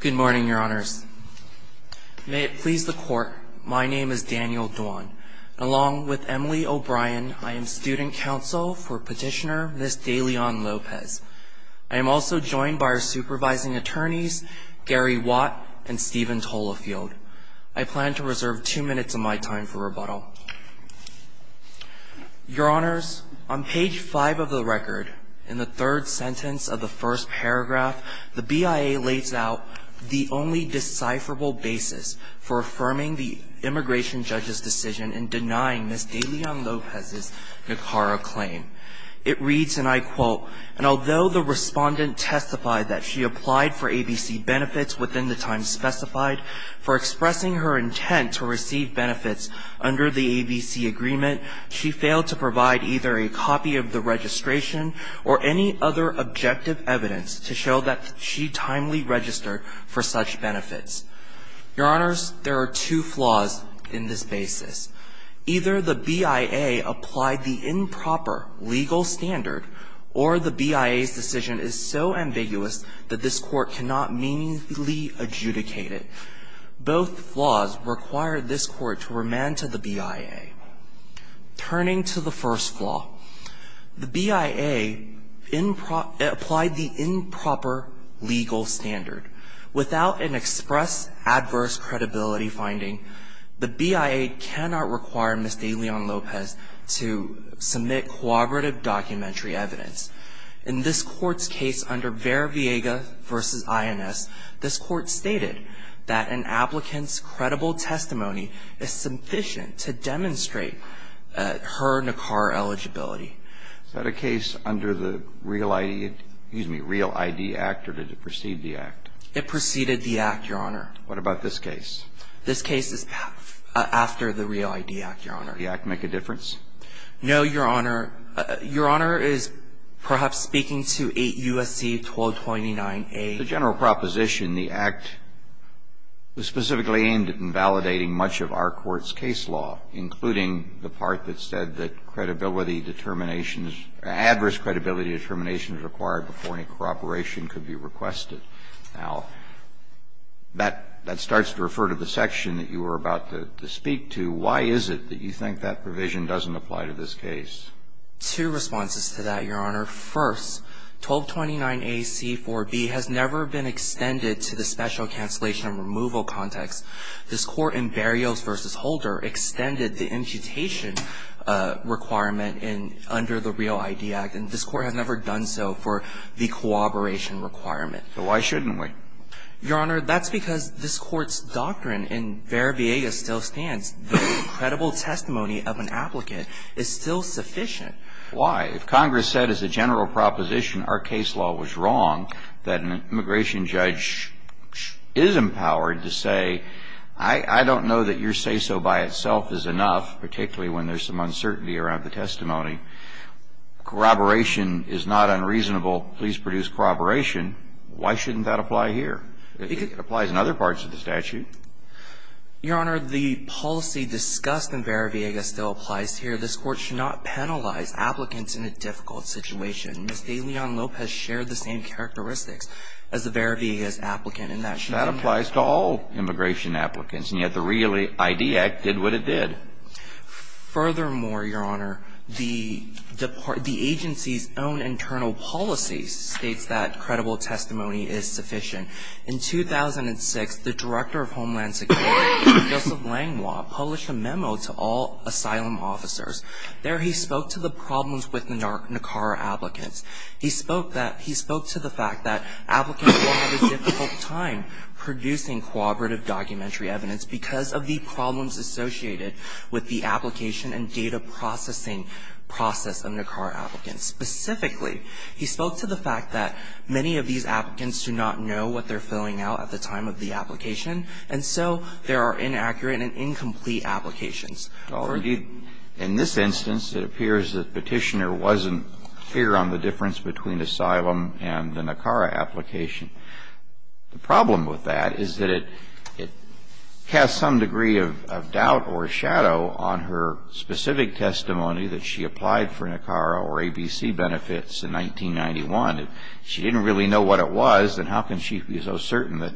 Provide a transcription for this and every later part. Good morning, Your Honors. May it please the Court, my name is Daniel Dwan. Along with Emily O'Brien, I am Student Counsel for Petitioner Ms. De Leon-Lopez. I am also joined by our supervising attorneys, Gary Watt and Stephen Tolafield. I plan to reserve two minutes of my time for rebuttal. Your Honors, on page five of the record, in the third sentence of the first paragraph, the BIA lays out the only decipherable basis for affirming the immigration judge's decision in denying Ms. De Leon-Lopez's Nicara claim. It reads, and I quote, and although the respondent testified that she applied for ABC benefits within the time specified for expressing her intent to receive benefits under the ABC agreement, she failed to provide either a copy of the registration or any other objective evidence to show that she timely registered for such benefits. Your Honors, there are two flaws in this basis. Either the BIA applied the improper legal standard or the BIA's decision is so ambiguous that this Court cannot meaningfully adjudicate it. Both flaws require this Court to remand to the BIA. Turning to the first flaw, the BIA applied the improper legal standard. Without an express adverse credibility finding, the BIA cannot require Ms. De Leon-Lopez to submit cooperative documentary evidence. In this Court's case under Vera Viega v. INS, this Court stated that an applicant's credible testimony is sufficient to demonstrate her Nicara eligibility. Is that a case under the Real ID Act or did it precede the Act? It preceded the Act, Your Honor. What about this case? This case is after the Real ID Act, Your Honor. Did the Act make a difference? No, Your Honor. Your Honor is perhaps speaking to 8 U.S.C. 1229A. The general proposition, the Act was specifically aimed at invalidating much of our Court's case law, including the part that said that credibility determinations or adverse credibility determinations required before any cooperation could be requested. That starts to refer to the section that you were about to speak to. Why is it that you refer to the section that you were about to speak to? Well, there are two responses to that, Your Honor. First, 1229A.C.4.B. has never been extended to the special cancellation and removal context. This Court in Berrios v. Holder extended the imputation requirement under the Real ID Act, and this Court has never done so for the cooperation requirement. So why shouldn't we? Your Honor, that's because this Court's doctrine in Vera Viega still stands. The credible testimony of an applicant is still sufficient. Why? If Congress said as a general proposition our case law was wrong, that an immigration judge is empowered to say, I don't know that your say-so by itself is enough, particularly when there's some uncertainty around the testimony, corroboration is not unreasonable, please produce corroboration, why shouldn't that apply here? It applies in other parts of the statute. Your Honor, the policy discussed in Vera Viega still applies here. This Court should not penalize applicants in a difficult situation. Ms. DeLeon-Lopez shared the same characteristics as the Vera Viega's applicant in that she didn't That applies to all immigration applicants, and yet the Real ID Act did what it did. Furthermore, Your Honor, the agency's own internal policy states that credible testimony is sufficient. In 2006, the Director of Homeland Security, Joseph Langlois, published a memo to all asylum officers. There he spoke to the problems with NACAR applicants. He spoke that he spoke to the fact that applicants will have a difficult time producing cooperative documentary evidence because of the problems associated with the application and data processing process of NACAR applicants. Specifically, he spoke to the fact that many of these applicants do not know what they're filling out at the time of the application, and so there are inaccurate and incomplete applications. Indeed, in this instance, it appears that Petitioner wasn't clear on the difference between asylum and the NACAR application. The problem with that is that it casts some degree of doubt or shadow on her specific testimony that she applied for NACAR or ABC benefits in 1991. If she didn't really know what it was, then how can she be so certain that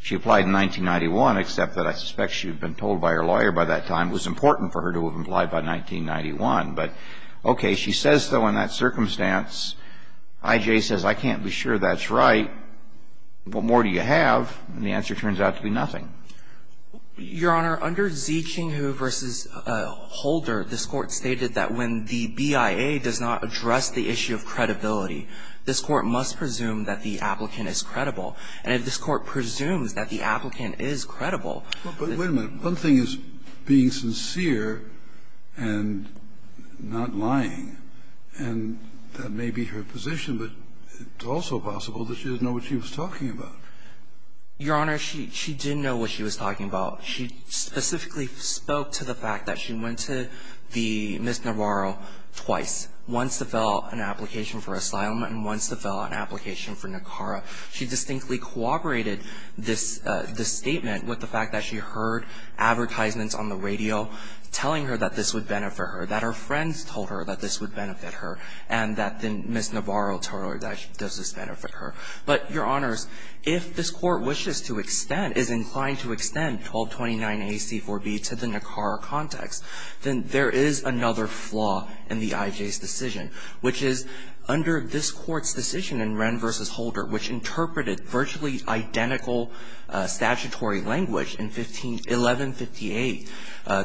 she applied in 1991, except that I suspect she had been told by her lawyer by that time it was important for her to have applied by 1991. But, okay, she says so in that circumstance. I.J. says, I can't be sure that's right. What more do you have? And the answer turns out to be nothing. Your Honor, under Zekinghu v. Holder, this Court stated that when the BIA does not And if this Court presumes that the applicant is credible – But wait a minute. One thing is being sincere and not lying, and that may be her position, but it's also possible that she didn't know what she was talking about. Your Honor, she didn't know what she was talking about. She specifically spoke to the fact that she went to the Miss Navarro twice, once to fill out an application for asylum and once to fill out an application for NACARA. She distinctly cooperated this statement with the fact that she heard advertisements on the radio telling her that this would benefit her, that her friends told her that this would benefit her, and that the Miss Navarro told her that this would benefit her. But, Your Honors, if this Court wishes to extend, is inclined to extend 1229a)(c)(4)(b), to the NACARA context, then there is another flaw in the interpreted virtually identical statutory language in 151158,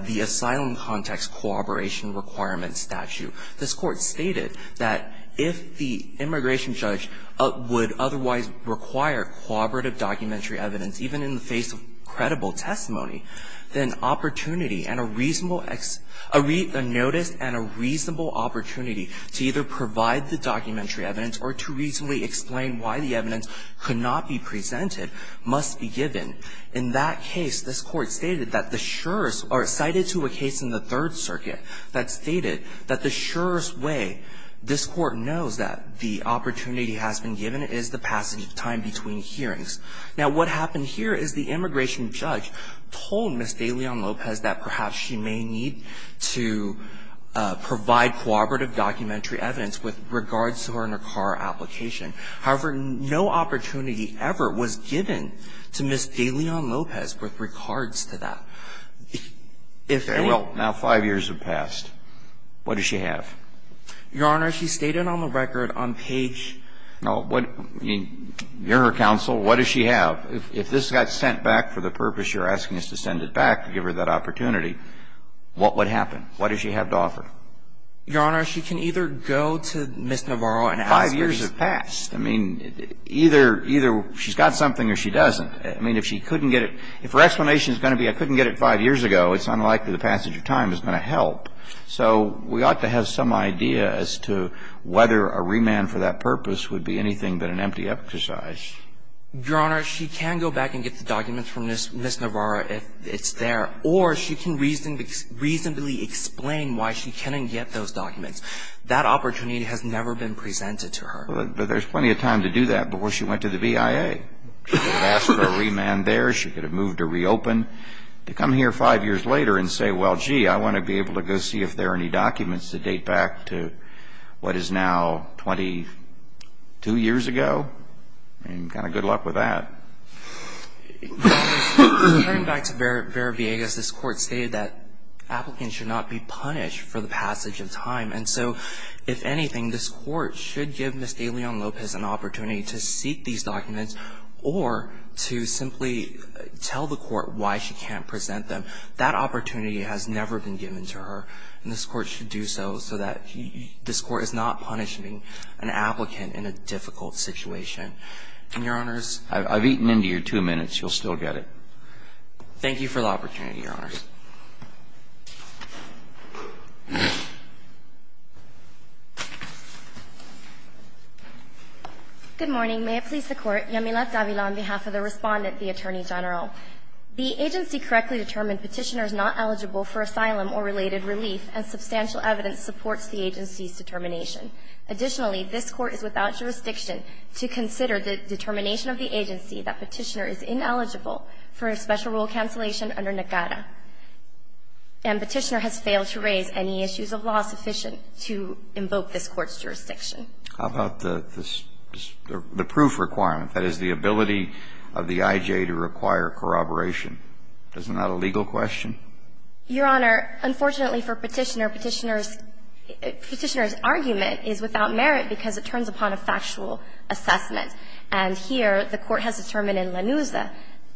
the Asylum Context Cooperation Requirements statute. This Court stated that if the immigration judge would otherwise require cooperative documentary evidence, even in the face of credible testimony, then opportunity and a reasonable – a notice and a reasonable opportunity to either provide the documentary evidence or to reasonably explain why the evidence could not be presented must be given. In that case, this Court stated that the surest – or cited to a case in the Third Circuit that stated that the surest way this Court knows that the opportunity has been given is the passage of time between hearings. Now, what happened here is the immigration judge told Ms. Galeon-Lopez that perhaps she may need to provide cooperative documentary evidence with regards to her NACARA application. However, no opportunity ever was given to Ms. Galeon-Lopez with regards to that. If they will – Now, 5 years have passed. What does she have? Your Honor, she stated on the record on page – No. You're her counsel. What does she have? If this got sent back for the purpose that you're asking us to send it back to give her that opportunity, what would happen? What does she have to offer? Your Honor, she can either go to Ms. Navarro and ask her to – 5 years have passed. I mean, either – either she's got something or she doesn't. I mean, if she couldn't get it – if her explanation is going to be, I couldn't get it 5 years ago, it's unlikely the passage of time is going to help. So we ought to have some idea as to whether a remand for that purpose would be anything but an empty exercise. Your Honor, she can go back and get the documents from Ms. Navarro if it's there, or she can reasonably explain why she couldn't get those documents. That opportunity has never been presented to her. But there's plenty of time to do that before she went to the BIA. She could have asked for a remand there. She could have moved or reopened. To come here 5 years later and say, well, gee, I want to be able to go see if there are any documents that date back to what is now 22 years ago. I mean, kind of good luck with that. Your Honor, going back to Vera – Vera Villegas, this Court stated that applicants should not be punished for the passage of time. And so, if anything, this Court should give Ms. De Leon Lopez an opportunity to seek these documents or to simply tell the Court why she can't present them. That opportunity has never been given to her, and this Court should do so, so that this Court is not punishing an applicant in a difficult situation. And, Your Honors – I've eaten into your 2 minutes. You'll still get it. Thank you for the opportunity, Your Honors. Good morning. May it please the Court. Yamila Davila on behalf of the Respondent, the Attorney The court has failed to raise any issues of law sufficient to invoke this Court's jurisdiction. How about the proof requirement, that is, the ability of the I.J. to require corroboration. Isn't that a legal question? Unfortunately for Petitioner, Petitioner's – Petitioner's argument is without merit because it turns upon a factual assessment. And here, the Court has determined in Lanuza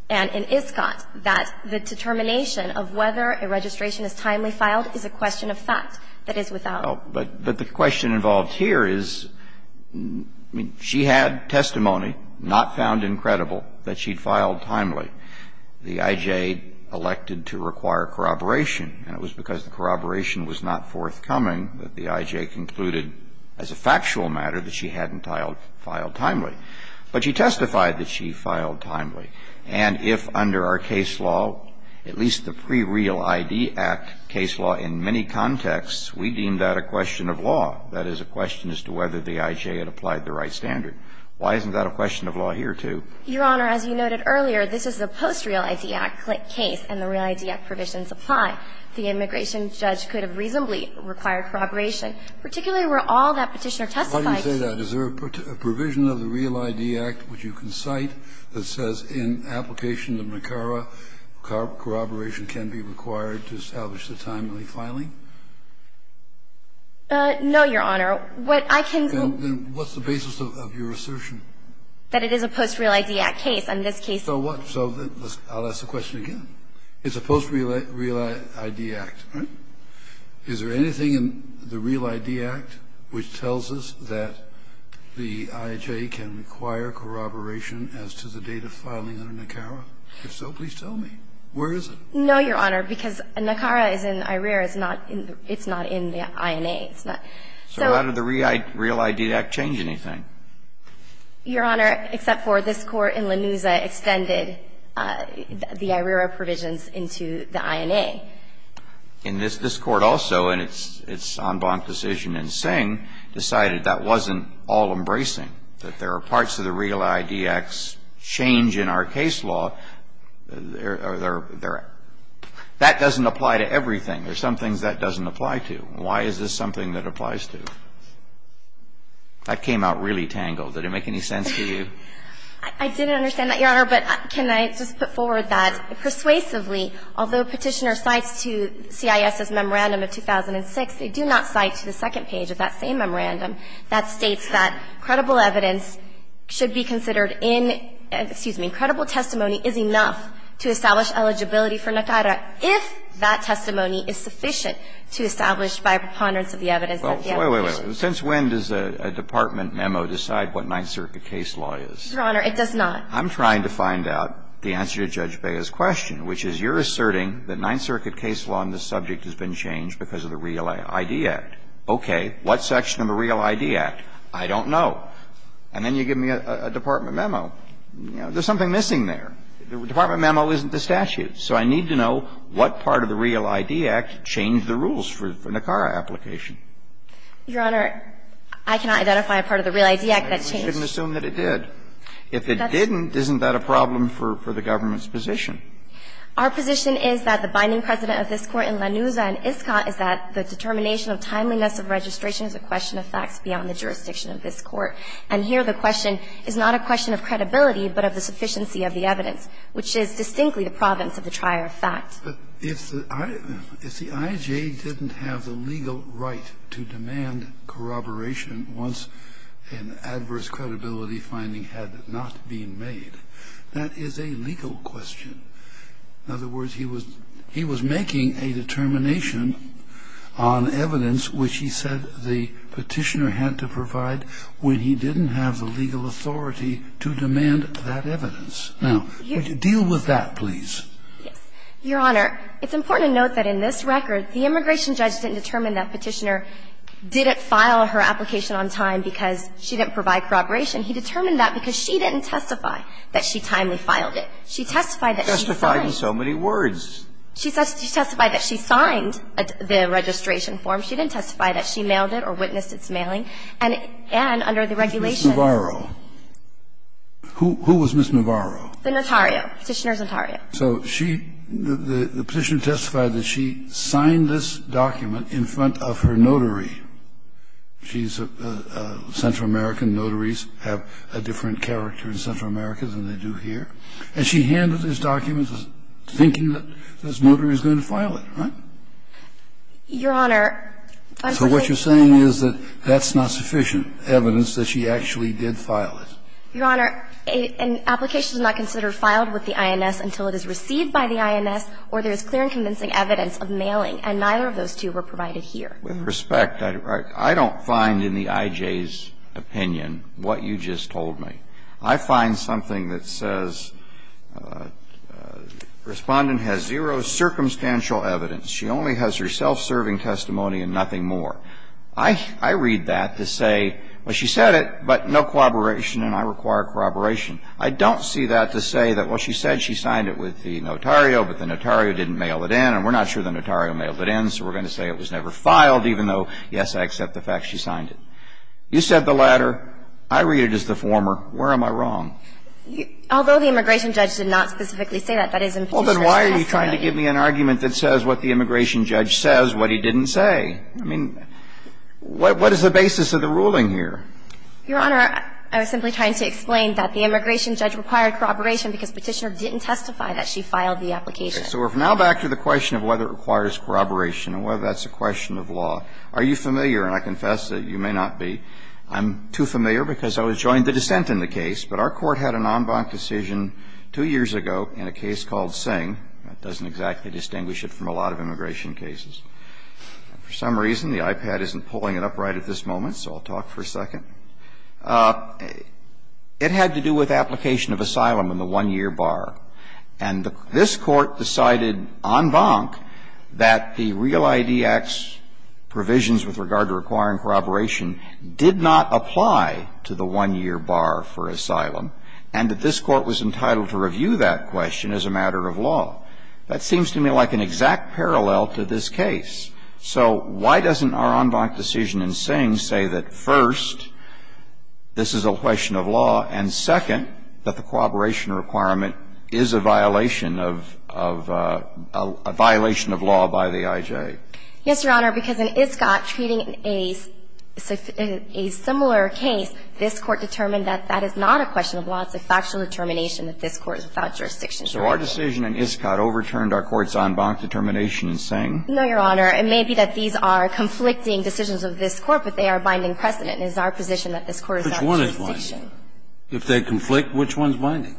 and in Iscott that the determination of whether a registration is timely filed is a question of fact, that is without merit. But the question involved here is, I mean, she had testimony, not found incredible, that she'd filed timely. The I.J. elected to require corroboration, and it was because corroboration was not forthcoming that the I.J. concluded, as a factual matter, that she hadn't filed timely. But she testified that she filed timely. And if under our case law, at least the pre-Real ID Act case law in many contexts, we deem that a question of law, that is a question as to whether the I.J. had applied the right standard. Why isn't that a question of law here, too? Your Honor, as you noted earlier, this is a post-Real ID Act case, and the Real ID Act provisions apply. The immigration judge could have reasonably required corroboration, particularly where all that Petitioner testified to. Why do you say that? Is there a provision of the Real ID Act, which you can cite, that says in application of NACARA, corroboration can be required to establish a timely filing? No, Your Honor. What I can say is that it is a post-Real ID Act case. So what? So I'll ask the question again. It's a post-Real ID Act, right? Is there anything in the Real ID Act which tells us that the I.J. can require corroboration as to the date of filing under NACARA? If so, please tell me. Where is it? No, Your Honor, because NACARA is in IRERA. It's not in the INA. So how did the Real ID Act change anything? Your Honor, except for this Court in Lanuza extended the IRERA provisions into the INA. And this Court also, in its en banc decision in Singh, decided that wasn't all embracing, that there are parts of the Real ID Act's change in our case law. That doesn't apply to everything. There are some things that doesn't apply to. Why is this something that applies to? That came out really tangled. Did it make any sense to you? I didn't understand that, Your Honor. But can I just put forward that persuasively, although Petitioner cites to CIS's memorandum of 2006, they do not cite to the second page of that same memorandum that states that credible evidence should be considered in, excuse me, credible testimony is enough to establish eligibility for NACARA if that testimony is sufficient to establish by preponderance of the evidence that the application. Well, wait, wait, wait. Since when does a department memo decide what Ninth Circuit case law is? Your Honor, it does not. I'm trying to find out the answer to Judge Bea's question, which is you're asserting that Ninth Circuit case law on this subject has been changed because of the Real ID Act. Okay. What section of the Real ID Act? I don't know. And then you give me a department memo. There's something missing there. The department memo isn't the statute. So I need to know what part of the Real ID Act changed the rules for NACARA application. Your Honor, I cannot identify a part of the Real ID Act that changed. You shouldn't assume that it did. If it didn't, isn't that a problem for the government's position? Our position is that the binding precedent of this Court in Lanuza and Iscott is that the determination of timeliness of registration is a question of facts beyond the jurisdiction of this Court. And here the question is not a question of credibility, but of the sufficiency of the evidence, which is distinctly the province of the trier of fact. But if the IJ didn't have the legal right to demand corroboration once an adverse credibility finding had not been made, that is a legal question. In other words, he was making a determination on evidence which he said the Petitioner had to provide when he didn't have the legal authority to demand that evidence. Now, deal with that, please. Your Honor, it's important to note that in this record, the immigration judge didn't determine that Petitioner didn't file her application on time because she didn't provide corroboration. He determined that because she didn't testify that she timely filed it. She testified that she signed. She testified in so many words. She testified that she signed the registration form. She didn't testify that she mailed it or witnessed its mailing. And under the regulations ---- Ms. Navarro. Who was Ms. Navarro? The notario. Petitioner's notario. So she ---- the Petitioner testified that she signed this document in front of her notary. She's a Central American. Notaries have a different character in Central America than they do here. And she handled this document thinking that this notary is going to file it, right? Your Honor ---- So what you're saying is that that's not sufficient evidence that she actually did file it. Your Honor, an application is not considered filed with the INS until it is received by the INS or there is clear and convincing evidence of mailing. And neither of those two were provided here. With respect, I don't find in the I.J.'s opinion what you just told me. I find something that says Respondent has zero circumstantial evidence. She only has her self-serving testimony and nothing more. I read that to say, well, she said it, but no corroboration, and I require corroboration. I don't see that to say that, well, she said she signed it with the notario, but the notario didn't mail it in, and we're not sure the notario mailed it in, so we're going to say it was never filed, even though, yes, I accept the fact she signed it. You said the latter. I read it as the former. Where am I wrong? Although the immigration judge did not specifically say that, that is in Petitioner's Well, then why are you trying to give me an argument that says what the immigration judge says, what he didn't say? I mean, what is the basis of the ruling here? Your Honor, I was simply trying to explain that the immigration judge required corroboration because Petitioner didn't testify that she filed the application. So we're now back to the question of whether it requires corroboration and whether that's a question of law. Are you familiar, and I confess that you may not be, I'm too familiar because I was joined to dissent in the case, but our Court had an en banc decision two years ago in a case called Singh. That doesn't exactly distinguish it from a lot of immigration cases. For some reason, the iPad isn't pulling it up right at this moment, so I'll talk for a second. It had to do with application of asylum in the one-year bar. And this Court decided en banc that the Real ID Act's provisions with regard to requiring corroboration did not apply to the one-year bar for asylum, and that this Court was a matter of law. That seems to me like an exact parallel to this case. So why doesn't our en banc decision in Singh say that, first, this is a question of law, and, second, that the corroboration requirement is a violation of a violation of law by the I.J.? Yes, Your Honor, because in Iscott, treating a similar case, this Court determined that that is not a question of law. It's a factual determination that this Court is without jurisdiction. So our decision in Iscott overturned our court's en banc determination in Singh? No, Your Honor. It may be that these are conflicting decisions of this Court, but they are binding precedent. It is our position that this Court is without jurisdiction. Which one is binding? If they conflict, which one is binding?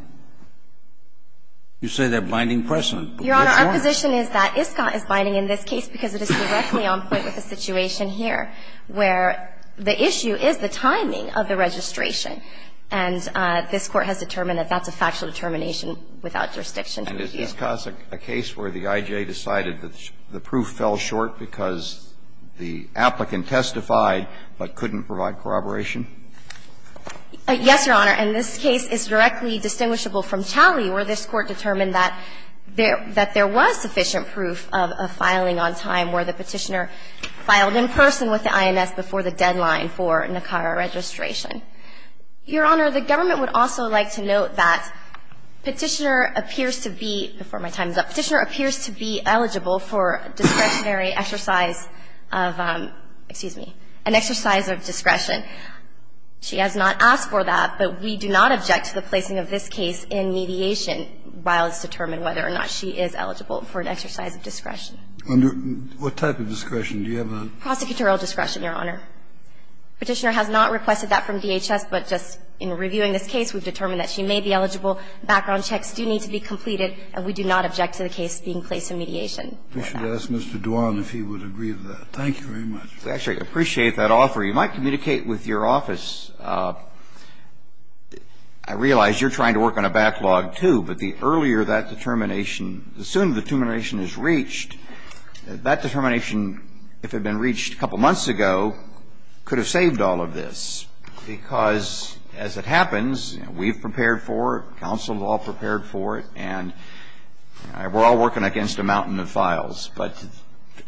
You say they're binding precedent, but which one? Your Honor, our position is that Iscott is binding in this case because it is directly on point with the situation here, where the issue is the timing of the registration. And this Court has determined that that's a factual determination without jurisdiction. And is Iscott a case where the IJ decided that the proof fell short because the applicant testified but couldn't provide corroboration? Yes, Your Honor. And this case is directly distinguishable from Challey, where this Court determined that there was sufficient proof of filing on time where the Petitioner filed in person with the INS before the deadline for NACARA registration. Your Honor, the government would also like to note that Petitioner appears to be, before my time is up, Petitioner appears to be eligible for discretionary exercise of, excuse me, an exercise of discretion. She has not asked for that, but we do not object to the placing of this case in mediation while it's determined whether or not she is eligible for an exercise of discretion. What type of discretion do you have on it? Prosecutorial discretion, Your Honor. Petitioner has not requested that from DHS, but just in reviewing this case, we've determined that she may be eligible, background checks do need to be completed, and we do not object to the case being placed in mediation. We should ask Mr. Duan if he would agree to that. Thank you very much. Actually, I appreciate that offer. You might communicate with your office. I realize you're trying to work on a backlog, too, but the earlier that determination the sooner the determination is reached, that determination, if it had been reached a couple months ago, could have saved all of this, because as it happens, we've prepared for it, counsel is all prepared for it, and we're all working against a mountain of files, but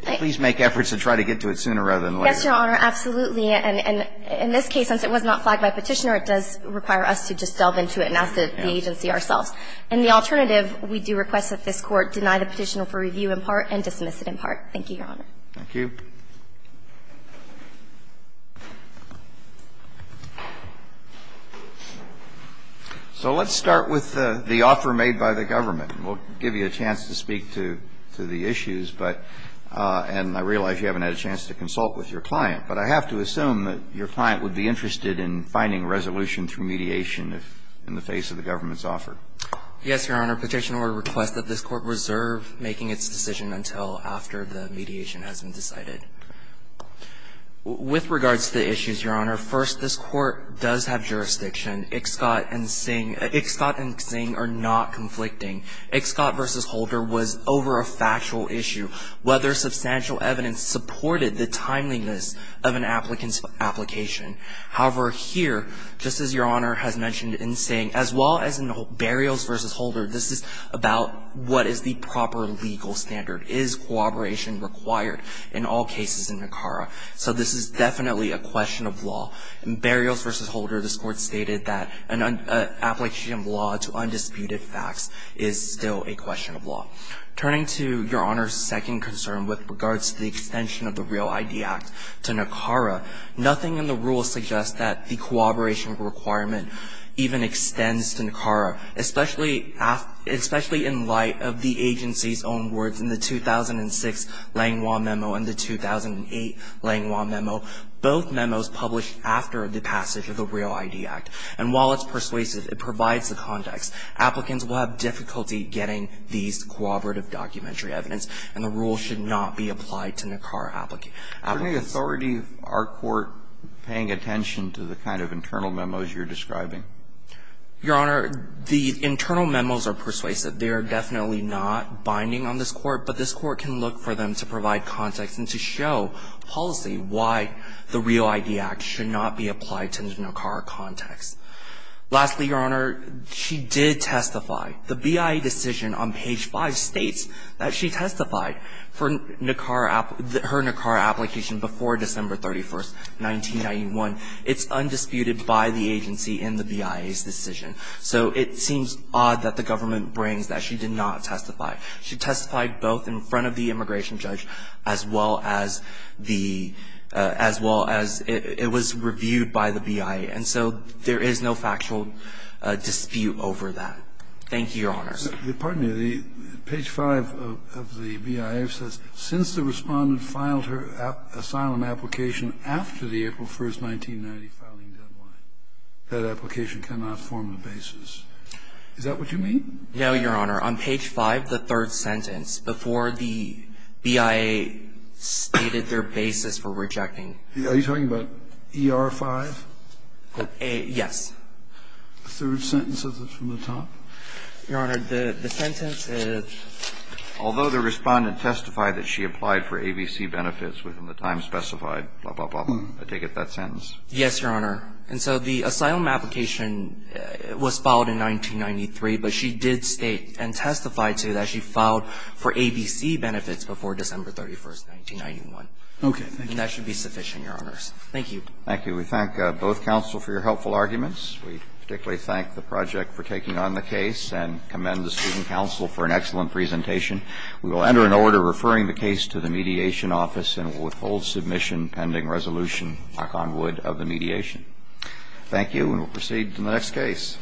please make efforts to try to get to it sooner rather than later. Yes, Your Honor, absolutely. And in this case, since it was not flagged by Petitioner, it does require us to just delve into it and ask the agency ourselves. And the alternative, we do request that this Court deny the petitioner for review in part and dismiss it in part. Thank you, Your Honor. Thank you. So let's start with the offer made by the government. And we'll give you a chance to speak to the issues, but and I realize you haven't had a chance to consult with your client, but I have to assume that your client would be interested in finding a resolution through mediation in the face of the government's offer. Yes, Your Honor, Petitioner would request that this Court reserve making its decision until after the mediation has been decided. With regards to the issues, Your Honor, first, this Court does have jurisdiction. Ixcot and Zing are not conflicting. Ixcot v. Holder was over a factual issue. Whether substantial evidence supported the timeliness of an applicant's application. However, here, just as Your Honor has mentioned in saying, as well as in Burials v. Holder, this is about what is the proper legal standard. Is cooperation required in all cases in Nicara? So this is definitely a question of law. In Burials v. Holder, this Court stated that an application of law to undisputed facts is still a question of law. Turning to Your Honor's second concern with regards to the extension of the REAL ID Act to Nicara, nothing in the rules suggests that the cooperation requirement even extends to Nicara, especially in light of the agency's own words in the 2006 Langlois Memo and the 2008 Langlois Memo. Both memos published after the passage of the REAL ID Act. And while it's persuasive, it provides the context. Applicants will have difficulty getting these cooperative documentary evidence, and the rule should not be applied to Nicara applicants. Alito, is there any authority of our Court paying attention to the kind of internal memos you're describing? Your Honor, the internal memos are persuasive. They are definitely not binding on this Court, but this Court can look for them to provide context and to show policy why the REAL ID Act should not be applied to Nicara context. Lastly, Your Honor, she did testify. The BIA decision on page five states that she testified for her Nicara application before December 31st, 1991. It's undisputed by the agency in the BIA's decision. So it seems odd that the government brings that she did not testify. She testified both in front of the immigration judge as well as it was reviewed by the BIA. And so there is no factual dispute over that. Thank you, Your Honor. Pardon me. Page five of the BIA says since the Respondent filed her asylum application after the April 1st, 1990 filing deadline, that application cannot form the basis. Is that what you mean? No, Your Honor. On page five, the third sentence, before the BIA stated their basis for rejecting Are you talking about ER-5? Yes. The third sentence from the top? Your Honor, the sentence is Although the Respondent testified that she applied for ABC benefits within the time specified, blah, blah, blah, I take it that sentence. Yes, Your Honor. And so the asylum application was filed in 1993, but she did state and testified to that she filed for ABC benefits before December 31st, 1991. Okay. And that should be sufficient, Your Honors. Thank you. Thank you. We thank both counsel for your helpful arguments. We particularly thank the project for taking on the case and commend the student counsel for an excellent presentation. We will enter an order referring the case to the Mediation Office and will withhold submission pending resolution, knock on wood, of the mediation. Thank you, and we'll proceed to the next case.